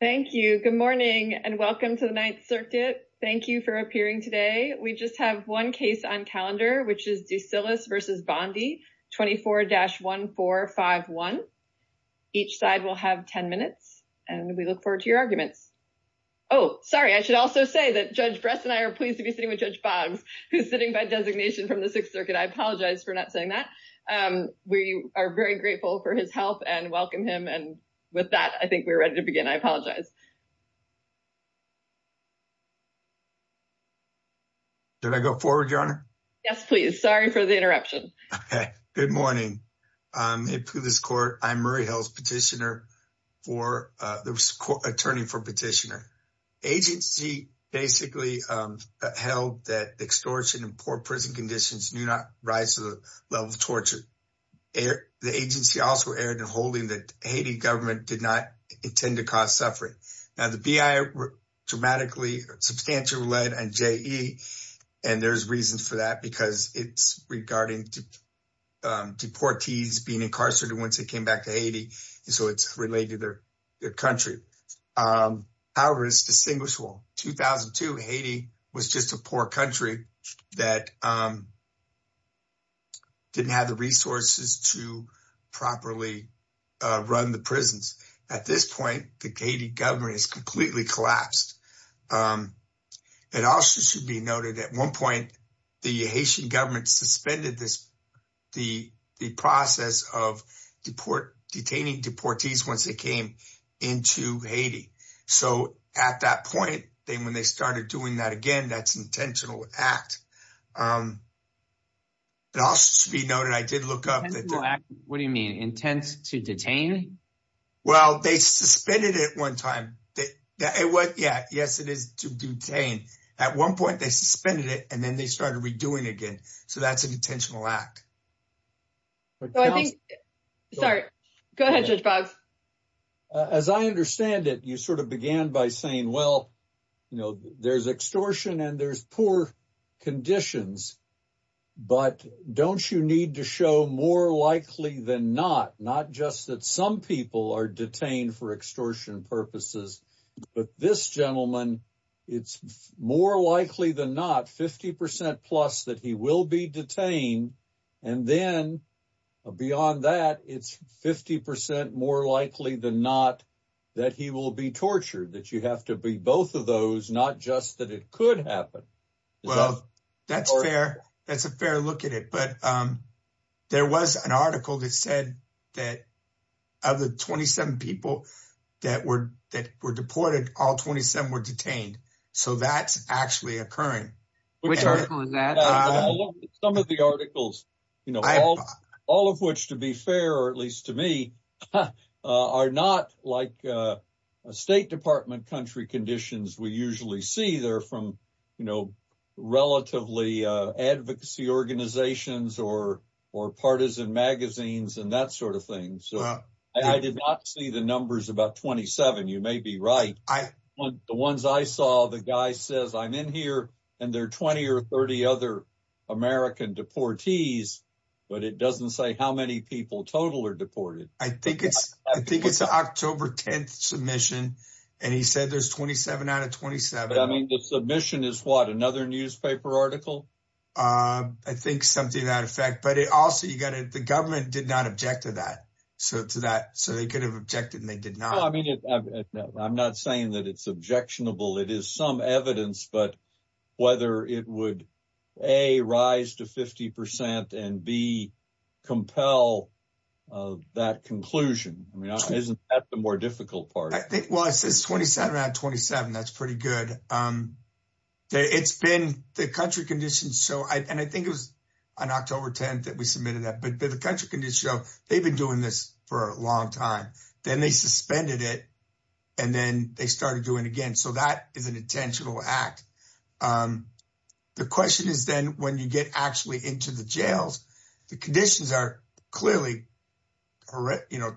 Thank you. Good morning and welcome to the Ninth Circuit. Thank you for appearing today. We just have one case on calendar which is Ducilus v. Bondi 24-1451. Each side will have 10 minutes and we look forward to your arguments. Oh sorry, I should also say that Judge Bress and I are pleased to be sitting with Judge Boggs who's sitting by designation from the Sixth Circuit. I apologize for not saying that. We are very grateful for his help and welcome him and with that, I think we're ready to begin. I apologize. Did I go forward, Your Honor? Yes, please. Sorry for the interruption. Good morning. In this court, I'm Murray Hills, Petitioner for the Attorney for Petitioner. Agency basically held that extortion and poor prison conditions do not rise to the level of it tends to cause suffering. Now, the B.I. dramatically, substantially led and J.E. and there's reasons for that because it's regarding deportees being incarcerated once they came back to Haiti, so it's related to their country. However, it's distinguishable. 2002, Haiti was just a poor country that didn't have the resources to properly run the prisons. At this point, the Haiti government is completely collapsed. It also should be noted at one point, the Haitian government suspended the process of detaining deportees once they came into Haiti, so at that point, then when they started doing that again, that's intentional act. It also should be noted, I did look up. What do you mean? Intense to detain? Well, they suspended it one time. Yes, it is to detain. At one point, they suspended it and then started redoing again, so that's an intentional act. Go ahead, Judge Boggs. As I understand it, you began by saying, well, there's extortion and there's poor conditions, but don't you need to show more likely than not, not just that some people are detained for extortion purposes, but this gentleman, it's more likely than not, 50% plus that he will be detained, and then beyond that, it's 50% more likely than not that he will be tortured, that you have to be both of those, not just that it could happen. Well, that's fair. That's a fair look at it, but there was an article that said that of the 27 people that were deported, all 27 were detained, so that's actually occurring. Some of the articles, all of which to be fair, or at least to me, are not like State Department country conditions we usually see. They're from relatively advocacy organizations or partisan magazines and that sort of thing. I did not see the numbers about 27. You may be right. The ones I saw, the guy says, I'm in here, and there are 20 or 30 other American deportees, but it doesn't say how many people total are deported. I think it's October 10th submission, and he said there's 27 out of 27. I mean, the submission is what, another newspaper article? I think something to that effect, but also, the government did not object to that, so they could have objected and they did not. I'm not saying that it's objectionable. It is evidence, but whether it would, A, rise to 50 percent and, B, compel that conclusion, I mean, isn't that the more difficult part? I think, well, it says 27 out of 27. That's pretty good. It's been, the country conditions show, and I think it was on October 10th that we submitted that, but the country conditions show they've been doing this for a long time. Then they suspended it, and then they started doing it again, so that is an intentional act. The question is then, when you get actually into the jails, the conditions are clearly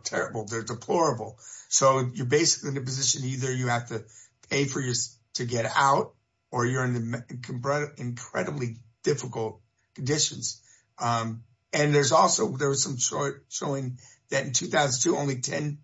terrible. They're deplorable, so you're basically in a position, either you have to pay for this to get out, or you're in incredibly difficult conditions. And there's also some showing that in 2002, only 10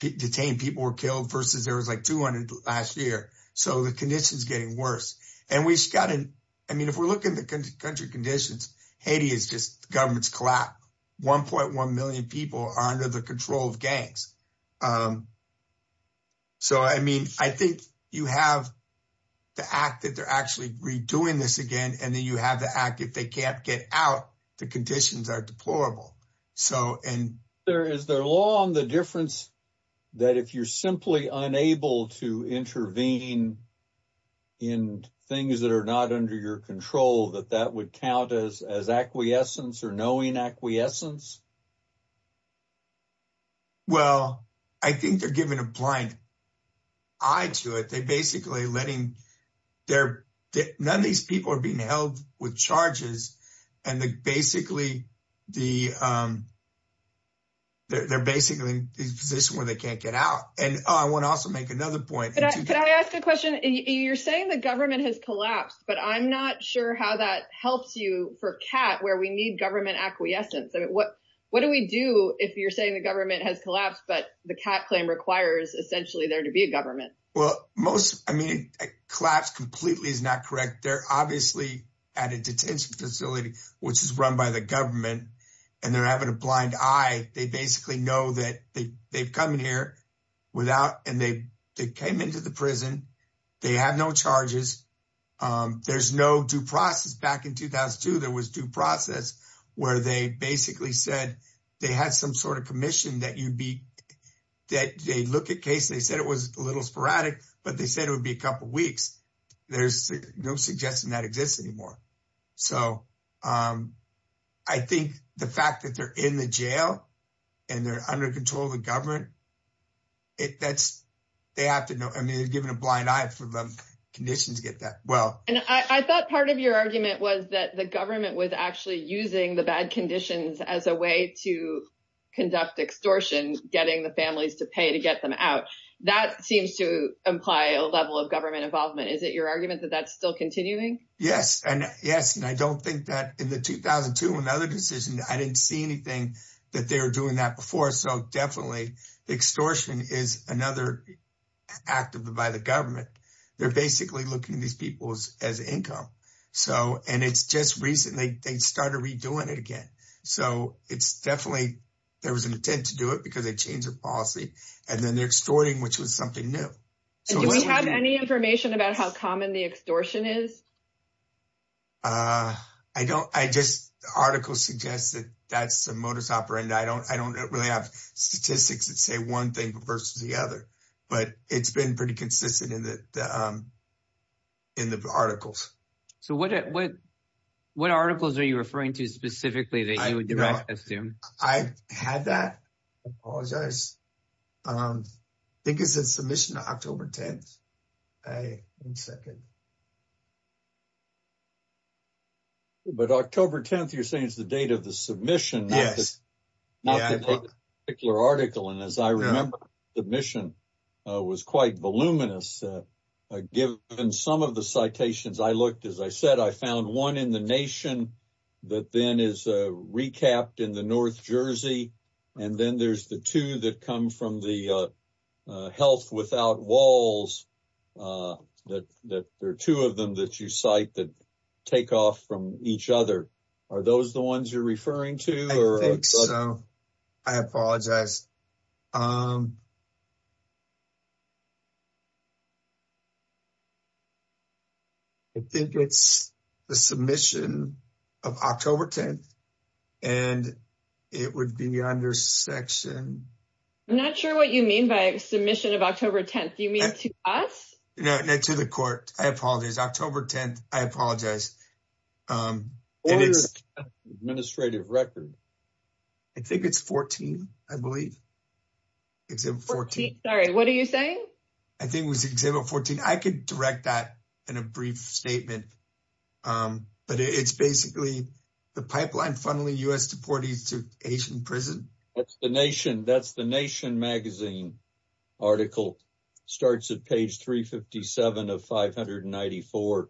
detained people were killed versus there was like 200 last year, so the conditions are getting worse. If we're looking at the country conditions, Haiti is just the government's collapse. 1.1 million people are under the control of gangs. So, I mean, I think you have the act that they're actually redoing this again, and then you have the act if they can't get out, the conditions are deplorable. Is there a law on the difference that if you're simply unable to intervene in things that are not under your control, that that would count as acquiescence or knowing acquiescence? Well, I think they're giving a blind eye to it. None of these people are being held with charges, and they're basically in a position where they can't get out. And I want to also make another point. Can I ask a question? You're saying the government has collapsed, but I'm not sure how that helps you for CAT, where we need acquiescence. What do we do if you're saying the government has collapsed, but the CAT claim requires essentially there to be a government? Well, I mean, collapse completely is not correct. They're obviously at a detention facility, which is run by the government, and they're having a blind eye. They basically know that they've come in here and they came into the prison. They have no charges. There's no due process. Back in 2002, there was due process where they basically said they had some sort of commission that they'd look at cases. They said it was a little sporadic, but they said it would be a couple of weeks. There's no suggestion that exists anymore. So I think the fact that they're in the jail and they're under control of the for them conditions get that well. And I thought part of your argument was that the government was actually using the bad conditions as a way to conduct extortion, getting the families to pay to get them out. That seems to imply a level of government involvement. Is it your argument that that's still continuing? Yes. And yes. And I don't think that in the 2002, another decision, I didn't see anything that they were doing that before. So definitely extortion is another act of the by the government. They're basically looking at these people's as income. So, and it's just recently they started redoing it again. So it's definitely, there was an intent to do it because they changed their policy and then they're extorting, which was something new. Do you have any information about how common the extortion is? I don't. I just, the article suggests that that's a modus operandi. I don't really have statistics that say one thing versus the other, but it's been pretty consistent in the articles. So what articles are you referring to specifically that you would assume? I had that. I apologize. I think it's a submission to October 10th. But October 10th, you're saying is the date of the submission. Yes. And as I remember, the mission was quite voluminous. Given some of the citations, I looked, as I said, I found one in the nation that then is recapped in the North Jersey. And then there's the two that come from the Health Without Walls. There are two of them that you cite that take off from each other. Are those the ones you're referring to? I think so. I apologize. I think it's the submission of October 10th and it would be under section. I'm not sure what you mean by a submission of October 10th. Do you mean to us? No, to the court. I apologize. October 10th. I apologize. What was the administrative record? I think it's 14, I believe. Sorry, what are you saying? I think it was example 14. I could direct that in a brief statement. But it's basically the pipeline funneling US deportees to Asian prison. That's the Nation Magazine article. It starts at page 357 of 594,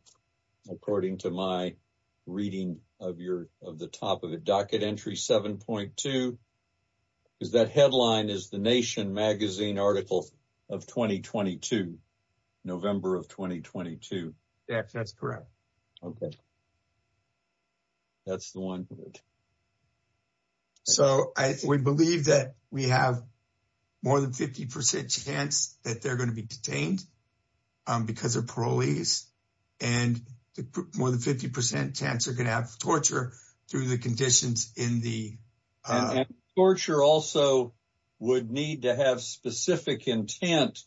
according to my reading of the top of the docket entry 7.2. Is that headline is the Nation Magazine article of 2022, November of 2022? Yes, that's correct. Okay. That's the one. Good. So I would believe that we have more than 50% chance that they're going to be detained because of parolees. And more than 50% chance they're going to have torture through the conditions in the... Torture also would need to have specific intent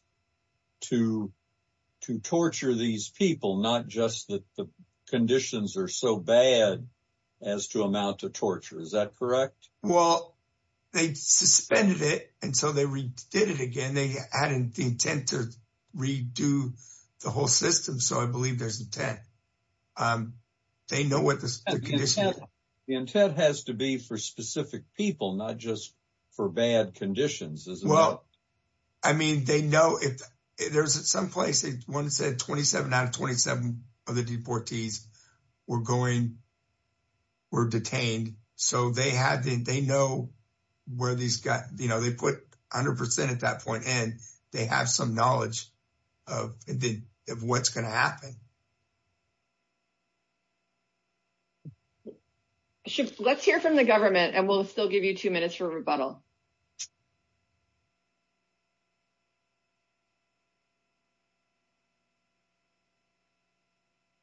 to torture these people, not just that the conditions are so bad as to amount to torture. Is that correct? Well, they suspended it. And so they redid it again. They added the intent to redo the whole system. So I believe there's intent. They know what the condition is. The intent has to be for specific people, not just for bad conditions. Well, I mean, they know if there's someplace, one said 27 out of 27 of the deportees were going, were detained. So they know where these got, they put 100% at that point and they have some knowledge of what's going to happen. Let's hear from the government and we'll still give you two minutes for rebuttal.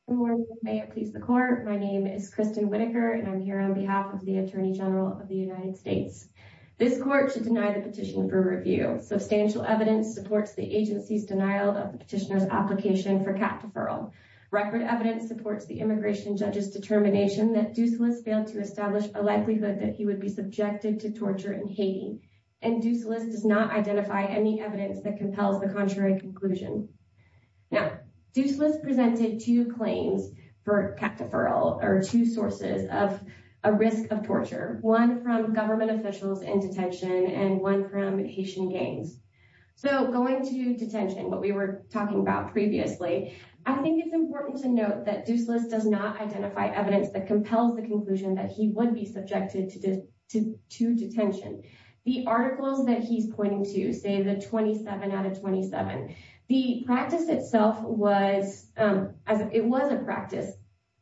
Good morning. May it please the court. My name is Kristen Whittaker and I'm here on behalf of the Attorney General of the United States. This court should deny the petition for review. Substantial evidence supports the agency's denial of the petitioner's application for cap deferral. Record evidence supports the immigration judge's determination that Doucelis failed to establish a likelihood that he would be subjected to torture in Haiti. And Doucelis does not identify any evidence that compels the contrary conclusion. Now, Doucelis presented two claims for cap deferral or two sources of a risk of torture, one from government officials in detention and one from Haitian gangs. So going to detention, what we were talking about previously, I think it's important to note that Doucelis does not identify evidence that compels the conclusion that he would be subjected to detention. The articles that he's pointing to, say the 27 out of 27, the practice itself was, as it was a practice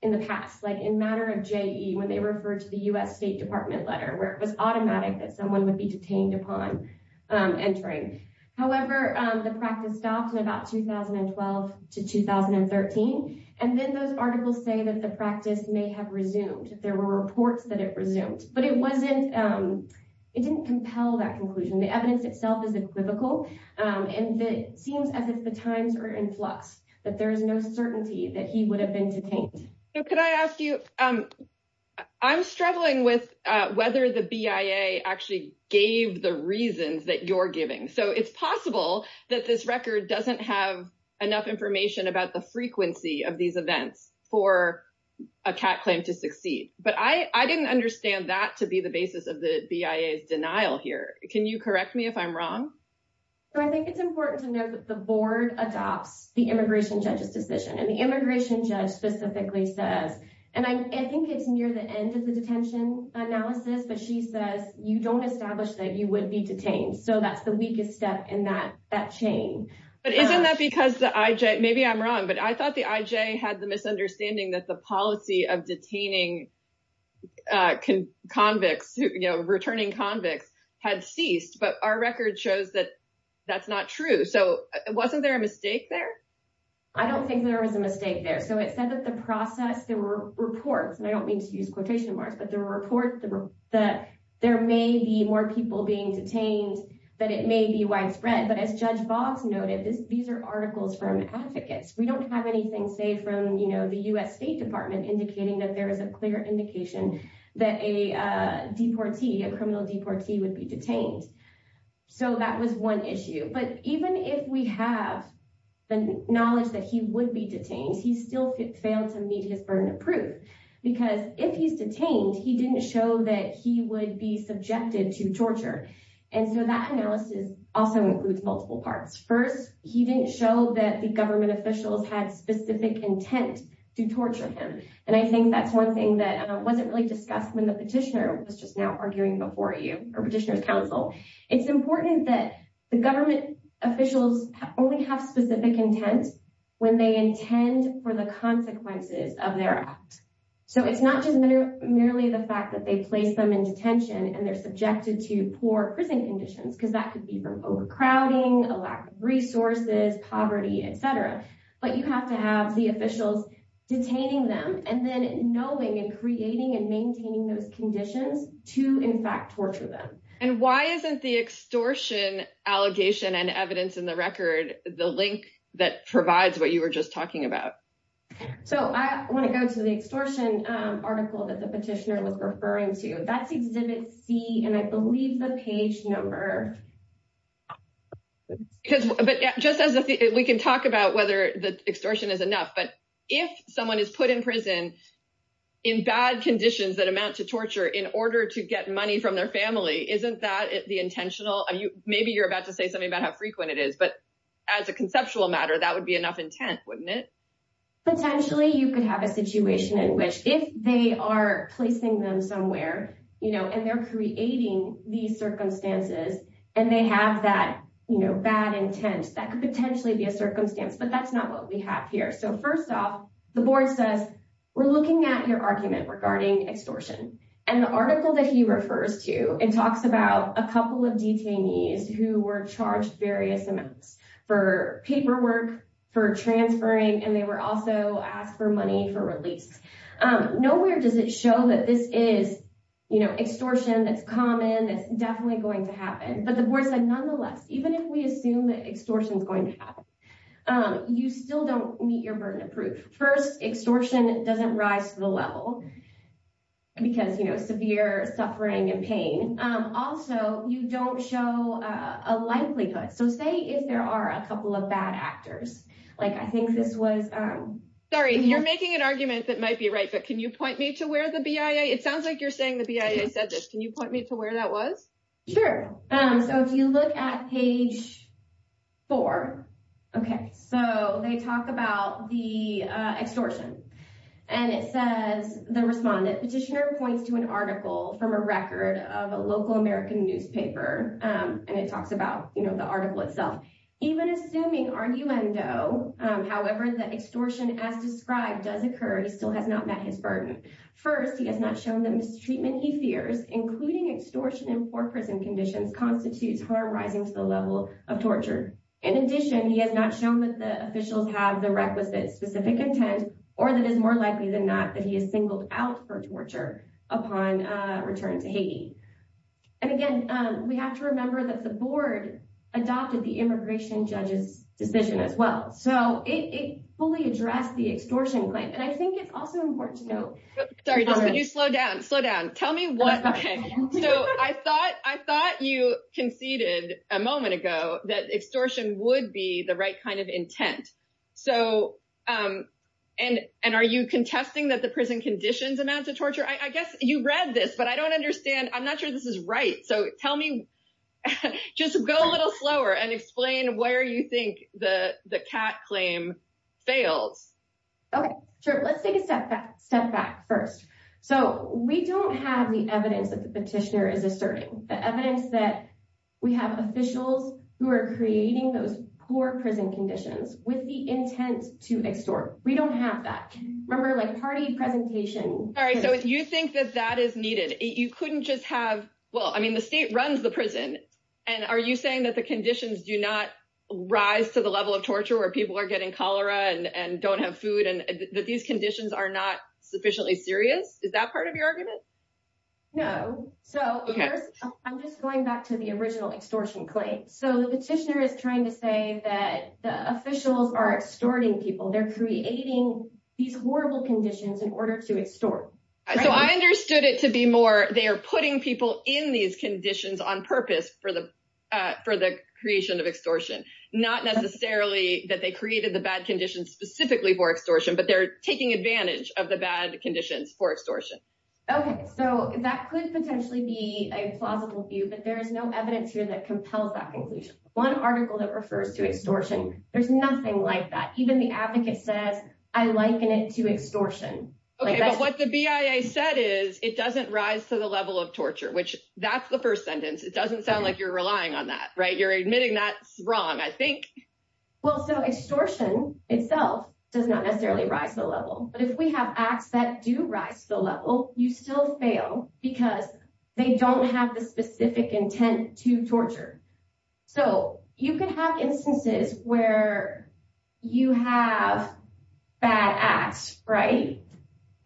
in the past, like in matter of JE, when they refer to the U.S. State Department letter, where it was automatic that someone would be detained upon entering. However, the practice stopped in about 2012 to 2013. And then those articles say that the practice may have resumed if there were reports that it resumed. But it didn't compel that conclusion. The evidence itself is equivocal. And it seems as if the times are in flux, that there is no certainty that he would have been detained. So could I ask you, I'm struggling with whether the BIA actually gave the reasons that you're giving. So it's possible that this record doesn't have enough information about the frequency of these events for a cat claim to succeed. But I didn't understand that to be the basis of the BIA's denial here. Can you correct me if I'm wrong? So I think it's important to note that the board adopts the immigration judge's decision. And the immigration judge specifically says, and I think it's near the end of the detention analysis, but she says, you don't establish that you would be detained. So that's the weakest step in that chain. But isn't that because the IJ, maybe I'm wrong, but I thought the IJ had the misunderstanding that the policy of detaining returning convicts had ceased, but our record shows that that's not true. So wasn't there a mistake there? I don't think there was a mistake there. So it said that the process, there were reports, and I don't mean to use quotation marks, but the report that there may be more people being detained, that it may be widespread. But as Judge Boggs noted, these are articles from advocates. We don't have anything, say, from the US State Department indicating that there is a clear indication that a criminal deportee would be detained. So that was one issue. But even if we have the knowledge that he would be detained, he still failed to meet his burden of because if he's detained, he didn't show that he would be subjected to torture. And so that analysis also includes multiple parts. First, he didn't show that the government officials had specific intent to torture him. And I think that's one thing that wasn't really discussed when the petitioner was just now arguing before you, or petitioner's counsel. It's important that the government officials only have specific intent when they intend for the consequences of their act. So it's not just merely the fact that they place them in detention and they're subjected to poor prison conditions, because that could be from overcrowding, a lack of resources, poverty, et cetera. But you have to have the officials detaining them and then knowing and creating and maintaining those conditions to, in fact, torture them. And why isn't the extortion allegation and evidence in the record the link that provides what you were just talking about? So I want to go to the extortion article that the petitioner was referring to. That's exhibit C, and I believe the page number. We can talk about whether the extortion is enough, but if someone is put in prison in bad conditions that amount to torture in order to get money from their family, isn't that the intentional? Maybe you're about to say something about how frequent it is, but as a conceptual matter, that would be enough intent, wouldn't it? Potentially, you could have a situation in which if they are placing them somewhere and they're creating these circumstances and they have that bad intent, that could potentially be a circumstance, but that's not what we have here. So first off, the board says, we're looking at your argument regarding extortion. And the article that he refers to, it talks about a couple of detainees who were charged various amounts for paperwork, for transferring, and they were also asked for money for release. Nowhere does it show that this is extortion that's common, that's definitely going to happen. But the board said, nonetheless, even if we assume that extortion is going to happen, you still don't meet your burden of proof. First, extortion doesn't rise to the level because severe suffering and pain. Also, you don't show a likelihood. So say if there are a couple of bad actors, like I think this was- Sorry, you're making an argument that might be right, but can you point me to where the BIA, it sounds like you're saying the BIA said this, can you point me to where that was? Sure. So if you look at page four, okay, so they talk about the extortion. And it says, the respondent, petitioner points to an article from a record of a local American newspaper, and it talks about the article itself. Even assuming arguendo, however, that extortion as described does occur, he still has not met his burden. First, he has not shown the mistreatment he fears, including extortion in constitutes harm rising to the level of torture. In addition, he has not shown that the officials have the requisite specific intent, or that it is more likely than not that he is singled out for torture upon return to Haiti. And again, we have to remember that the board adopted the immigration judge's decision as well. So it fully addressed the extortion claim. And I think it's also important to note- Sorry, can you slow down, slow down. Tell me what, okay. So I thought you conceded a moment ago that extortion would be the right kind of intent. And are you contesting that the prison conditions amount to torture? I guess you read this, but I don't understand. I'm not sure this is right. So tell me, just go a little slower and explain where you think the CAT claim fails. Okay, sure. Let's take a step back first. So we don't have the evidence that the petitioner is asserting, the evidence that we have officials who are creating those poor prison conditions with the intent to extort. We don't have that. Remember, like party presentation- All right, so you think that that is needed. You couldn't just have, well, I mean, the state runs the prison. And are you that the conditions do not rise to the level of torture where people are getting cholera and don't have food and that these conditions are not sufficiently serious? Is that part of your argument? No. So I'm just going back to the original extortion claim. So the petitioner is trying to say that the officials are extorting people. They're creating these horrible conditions in order to extort. So I understood it to be more, they are putting people in these conditions on purpose for the creation of extortion. Not necessarily that they created the bad conditions specifically for extortion, but they're taking advantage of the bad conditions for extortion. Okay. So that could potentially be a plausible view, but there is no evidence here that compels that conclusion. One article that refers to extortion, there's nothing like that. Even the advocate says, I liken it to extortion. Okay, but what the BIA said is it doesn't rise to the level of torture, which that's the first sentence. It doesn't sound like you're relying on that, right? You're admitting that's wrong, I think. Well, so extortion itself does not necessarily rise to the level, but if we have acts that do rise to the level, you still fail because they don't have the specific intent to torture. So you can have instances where you have bad acts, right?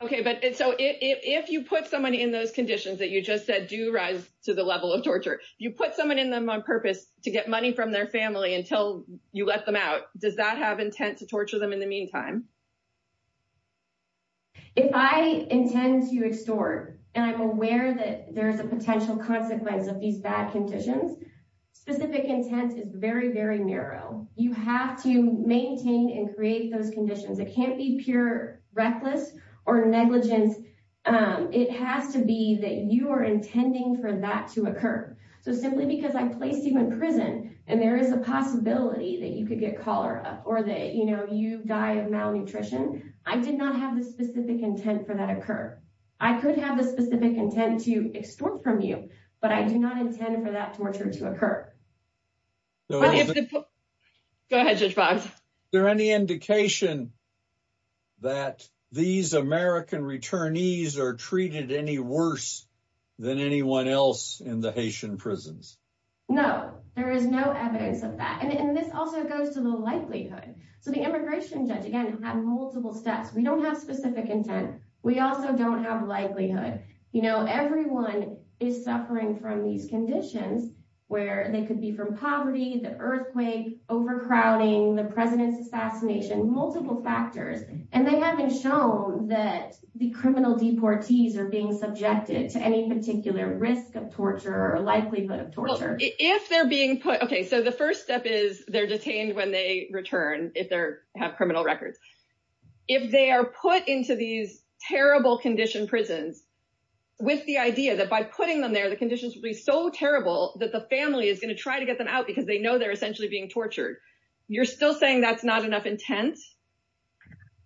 Okay. So if you put someone in those conditions that you just said do rise to the level of torture, you put someone in them on purpose to get money from their family until you let them out, does that have intent to torture them in the meantime? If I intend to extort, and I'm aware that there's a potential consequence of these bad conditions, specific intent is very, very narrow. You have to maintain and create those conditions. It can't be pure reckless or negligence. It has to be that you are intending for that to occur. So simply because I placed you in prison and there is a possibility that you could get cholera or that you die of malnutrition, I did not have the specific intent for that to occur. I could have the specific intent to extort from you, but I do not intend for that torture to occur. Go ahead, Judge Boggs. Is there any indication that these American returnees are treated any worse than anyone else in the Haitian prisons? No, there is no evidence of that. And this also goes to the likelihood. So the immigration judge, again, had multiple steps. We don't have specific intent. We also don't have likelihood. Everyone is suffering from these conditions where they could be from poverty, the earthquake, overcrowding, the president's assassination, multiple factors. And they haven't shown that the criminal deportees are being subjected to any particular risk of torture or likelihood of torture. If they're being put... Okay, so the first step is they're detained when they return, if they have criminal records. If they are put into these terrible condition prisons with the idea that by putting them there, the conditions will be so terrible that the family is going to try to get them out because they know they're essentially being tortured, you're still saying that's not enough intent?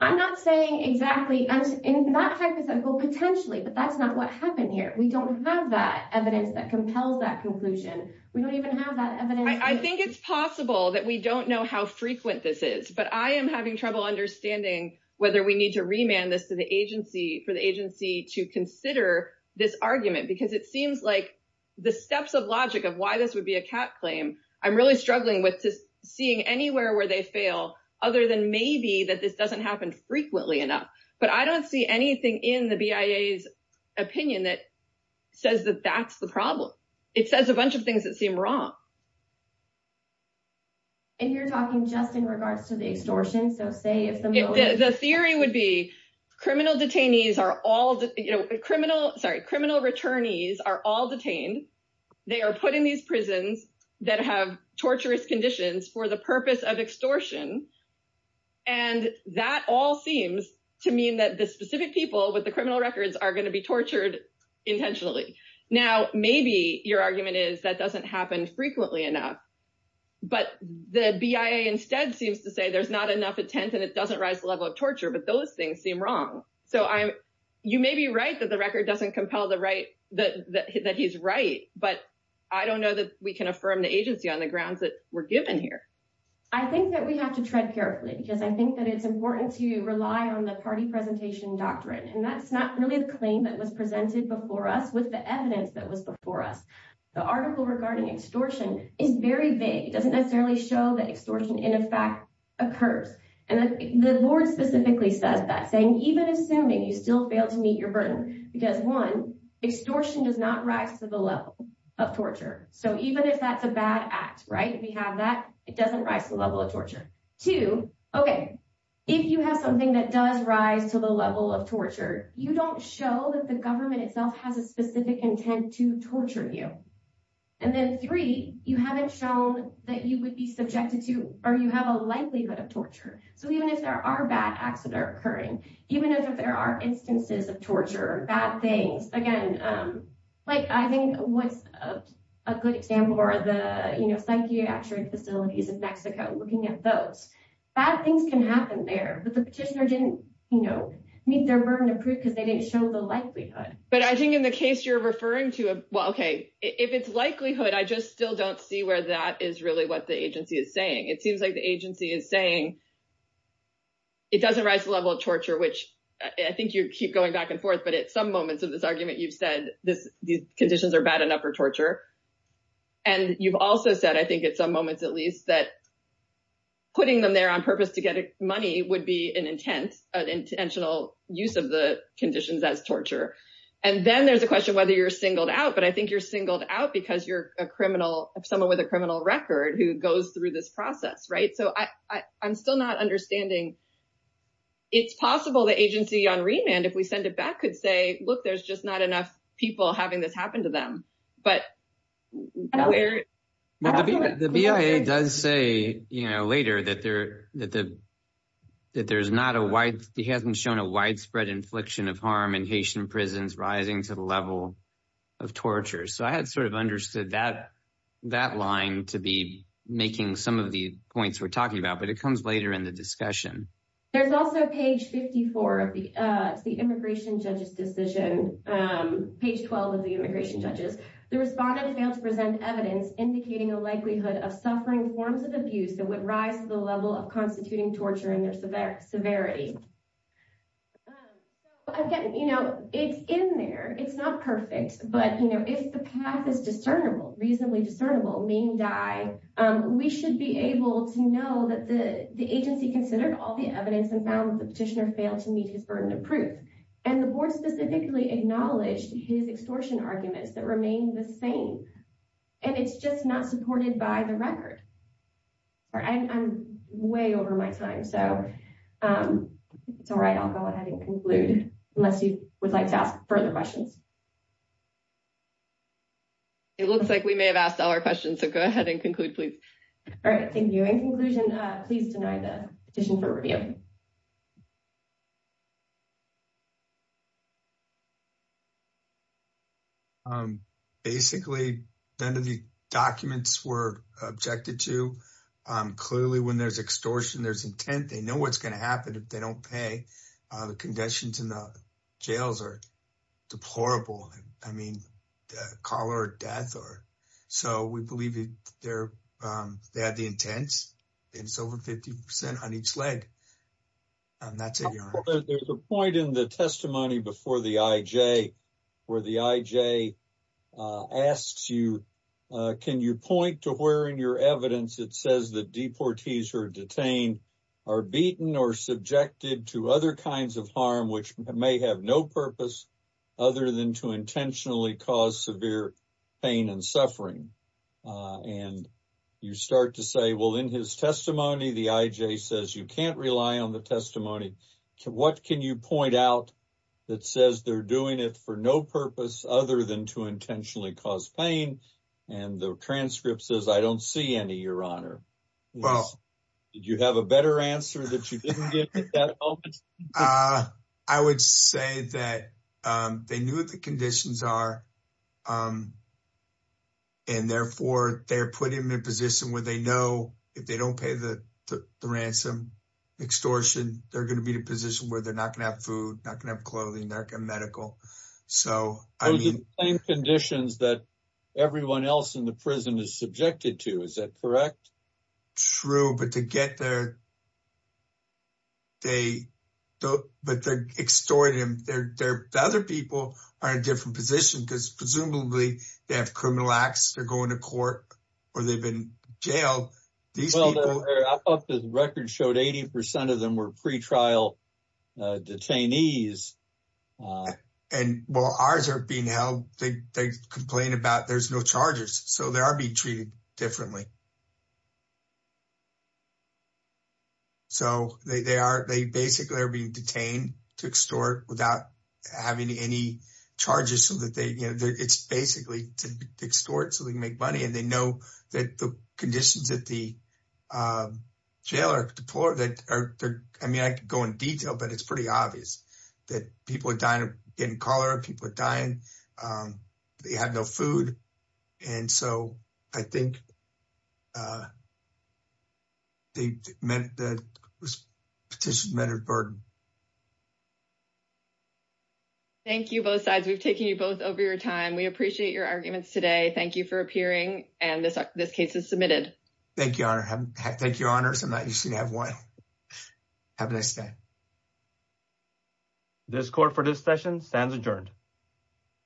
I'm not saying exactly. In that hypothetical, potentially, but that's not what happened here. We don't have that evidence that compels that conclusion. We don't even have that evidence. I think it's possible that we don't know how frequent this is, but I am having trouble understanding whether we need to remand this for the agency to consider this argument because it seems like the steps of logic of why this would be a cat claim, I'm really struggling with just seeing anywhere where they fail, other than maybe that this doesn't happen frequently enough. But I don't see anything in the BIA's opinion that says that that's the problem. It says a lot. You're talking just in regards to the extortion, so say if the motive- The theory would be criminal detainees are all, sorry, criminal returnees are all detained. They are put in these prisons that have torturous conditions for the purpose of extortion. That all seems to mean that the specific people with the criminal records are going to be tortured intentionally. Now, maybe your argument is that doesn't happen frequently enough, but the BIA instead seems to say there's not enough intent and it doesn't rise the level of torture, but those things seem wrong. You may be right that the record doesn't compel that he's right, but I don't know that we can affirm the agency on the grounds that we're given here. I think that we have to tread carefully, because I think that it's important to rely on the party presentation doctrine, and that's not really the claim that was presented before us with the evidence that was before us. The article regarding extortion is very vague. It doesn't necessarily show that extortion, in effect, occurs. The board specifically says that, saying even assuming you still fail to meet your burden, because one, extortion does not rise to the level of torture. Even if that's a bad act, if you have that, it doesn't rise to the level of torture. Two, okay, if you have something that does rise to the level of torture, you don't show that the government itself has a specific intent to torture you. And then three, you haven't shown that you would be subjected to, or you have a likelihood of torture. So even if there are bad acts that are occurring, even if there are instances of torture, bad things, again, like I think what's a good example are the psychiatric facilities in Mexico, looking at those. Bad things can happen there, but the petitioner didn't meet their burden of proof because they didn't show the likelihood. But I think in the case you're referring to, well, okay, if it's likelihood, I just still don't see where that is really what the agency is saying. It seems like the agency is saying it doesn't rise to the level of torture, which I think you keep going back and forth, but at some moments of this argument, you've said these conditions are bad enough for torture. And you've also said, I think at some moments at least, that putting them there on purpose to get money would be an intent, an intentional use of the conditions as torture. And then there's a question whether you're singled out, but I think you're singled out because you're a criminal, someone with a criminal record who goes through this process, right? So I'm still not understanding. It's possible the agency on remand, if we send it back, could say, look, there's just not enough people having this happen to them. But. The BIA does say later that there's not a wide, he hasn't shown a widespread infliction of harm in Haitian prisons rising to the level of torture. So I had sort of understood that line to be making some of the points we're talking about, but it comes later in the discussion. There's also page 54 of the immigration judge's decision, page 12 of the immigration judges, the respondent failed to present evidence indicating a likelihood of suffering forms of abuse that would rise to the level of constituting torture in their severity. Again, it's in there, it's not perfect, but if the path is discernible, reasonably discernible, mean die, we should be able to know that the agency considered all the evidence and found the petitioner failed to meet his burden of proof. And the board specifically acknowledged his extortion arguments that remain the same. And it's just not supported by the record. Or I'm way over my time, so it's all right, I'll go ahead and conclude, unless you would like to ask further questions. It looks like we may have asked all our questions, so go ahead and conclude, please. All right, thank you. In conclusion, please deny the petition for review. Basically, none of the documents were objected to. Clearly, when there's extortion, there's intent, they know what's going to happen if they don't pay. The conditions in the jails are deplorable, I mean, call it death. So we believe they have the intent, and it's over 50% on each leg. There's a point in the testimony before the IJ, where the IJ asks you, can you point to where in your evidence it says that deportees who are detained are beaten or subjected to other kinds of harm, which may have no purpose, other than to intentionally cause severe pain and suffering? And you start to say, well, in his testimony, the IJ says you can't rely on the testimony. What can you point out that says they're doing it for no purpose other than to intentionally cause pain? And the transcript says, I don't see any, Your Honor. Did you have a better answer that you didn't get at that moment? I would say that they knew what the conditions are, and therefore, they're putting them in a position where they know if they don't pay the ransom, extortion, they're going to be in a position where they're not going to have food, not going to have else in the prison is subjected to, is that correct? True, but they're extorting them. The other people are in a different position because presumably, they have criminal acts, they're going to court, or they've been jailed. I thought the record showed 80% of them were pre-trial detainees. Wow. And while ours are being held, they complain about there's no charges, so they are being treated differently. So they basically are being detained to extort without having any charges. It's basically to extort so they can make money, and they know that the conditions at the jail are deplorable. I mean, I could go in detail, but it's pretty obvious that people are dying, getting cholera, people are dying, they have no food, and so I think they meant that this petition meant a burden. Thank you, both sides. We've taken you both over your time. We appreciate your arguments today. Thank you for appearing, and this case is submitted. Thank you, Your Honor. Thank you, Your Honors. I'm not used to having one. Have a nice day. This court for this session stands adjourned.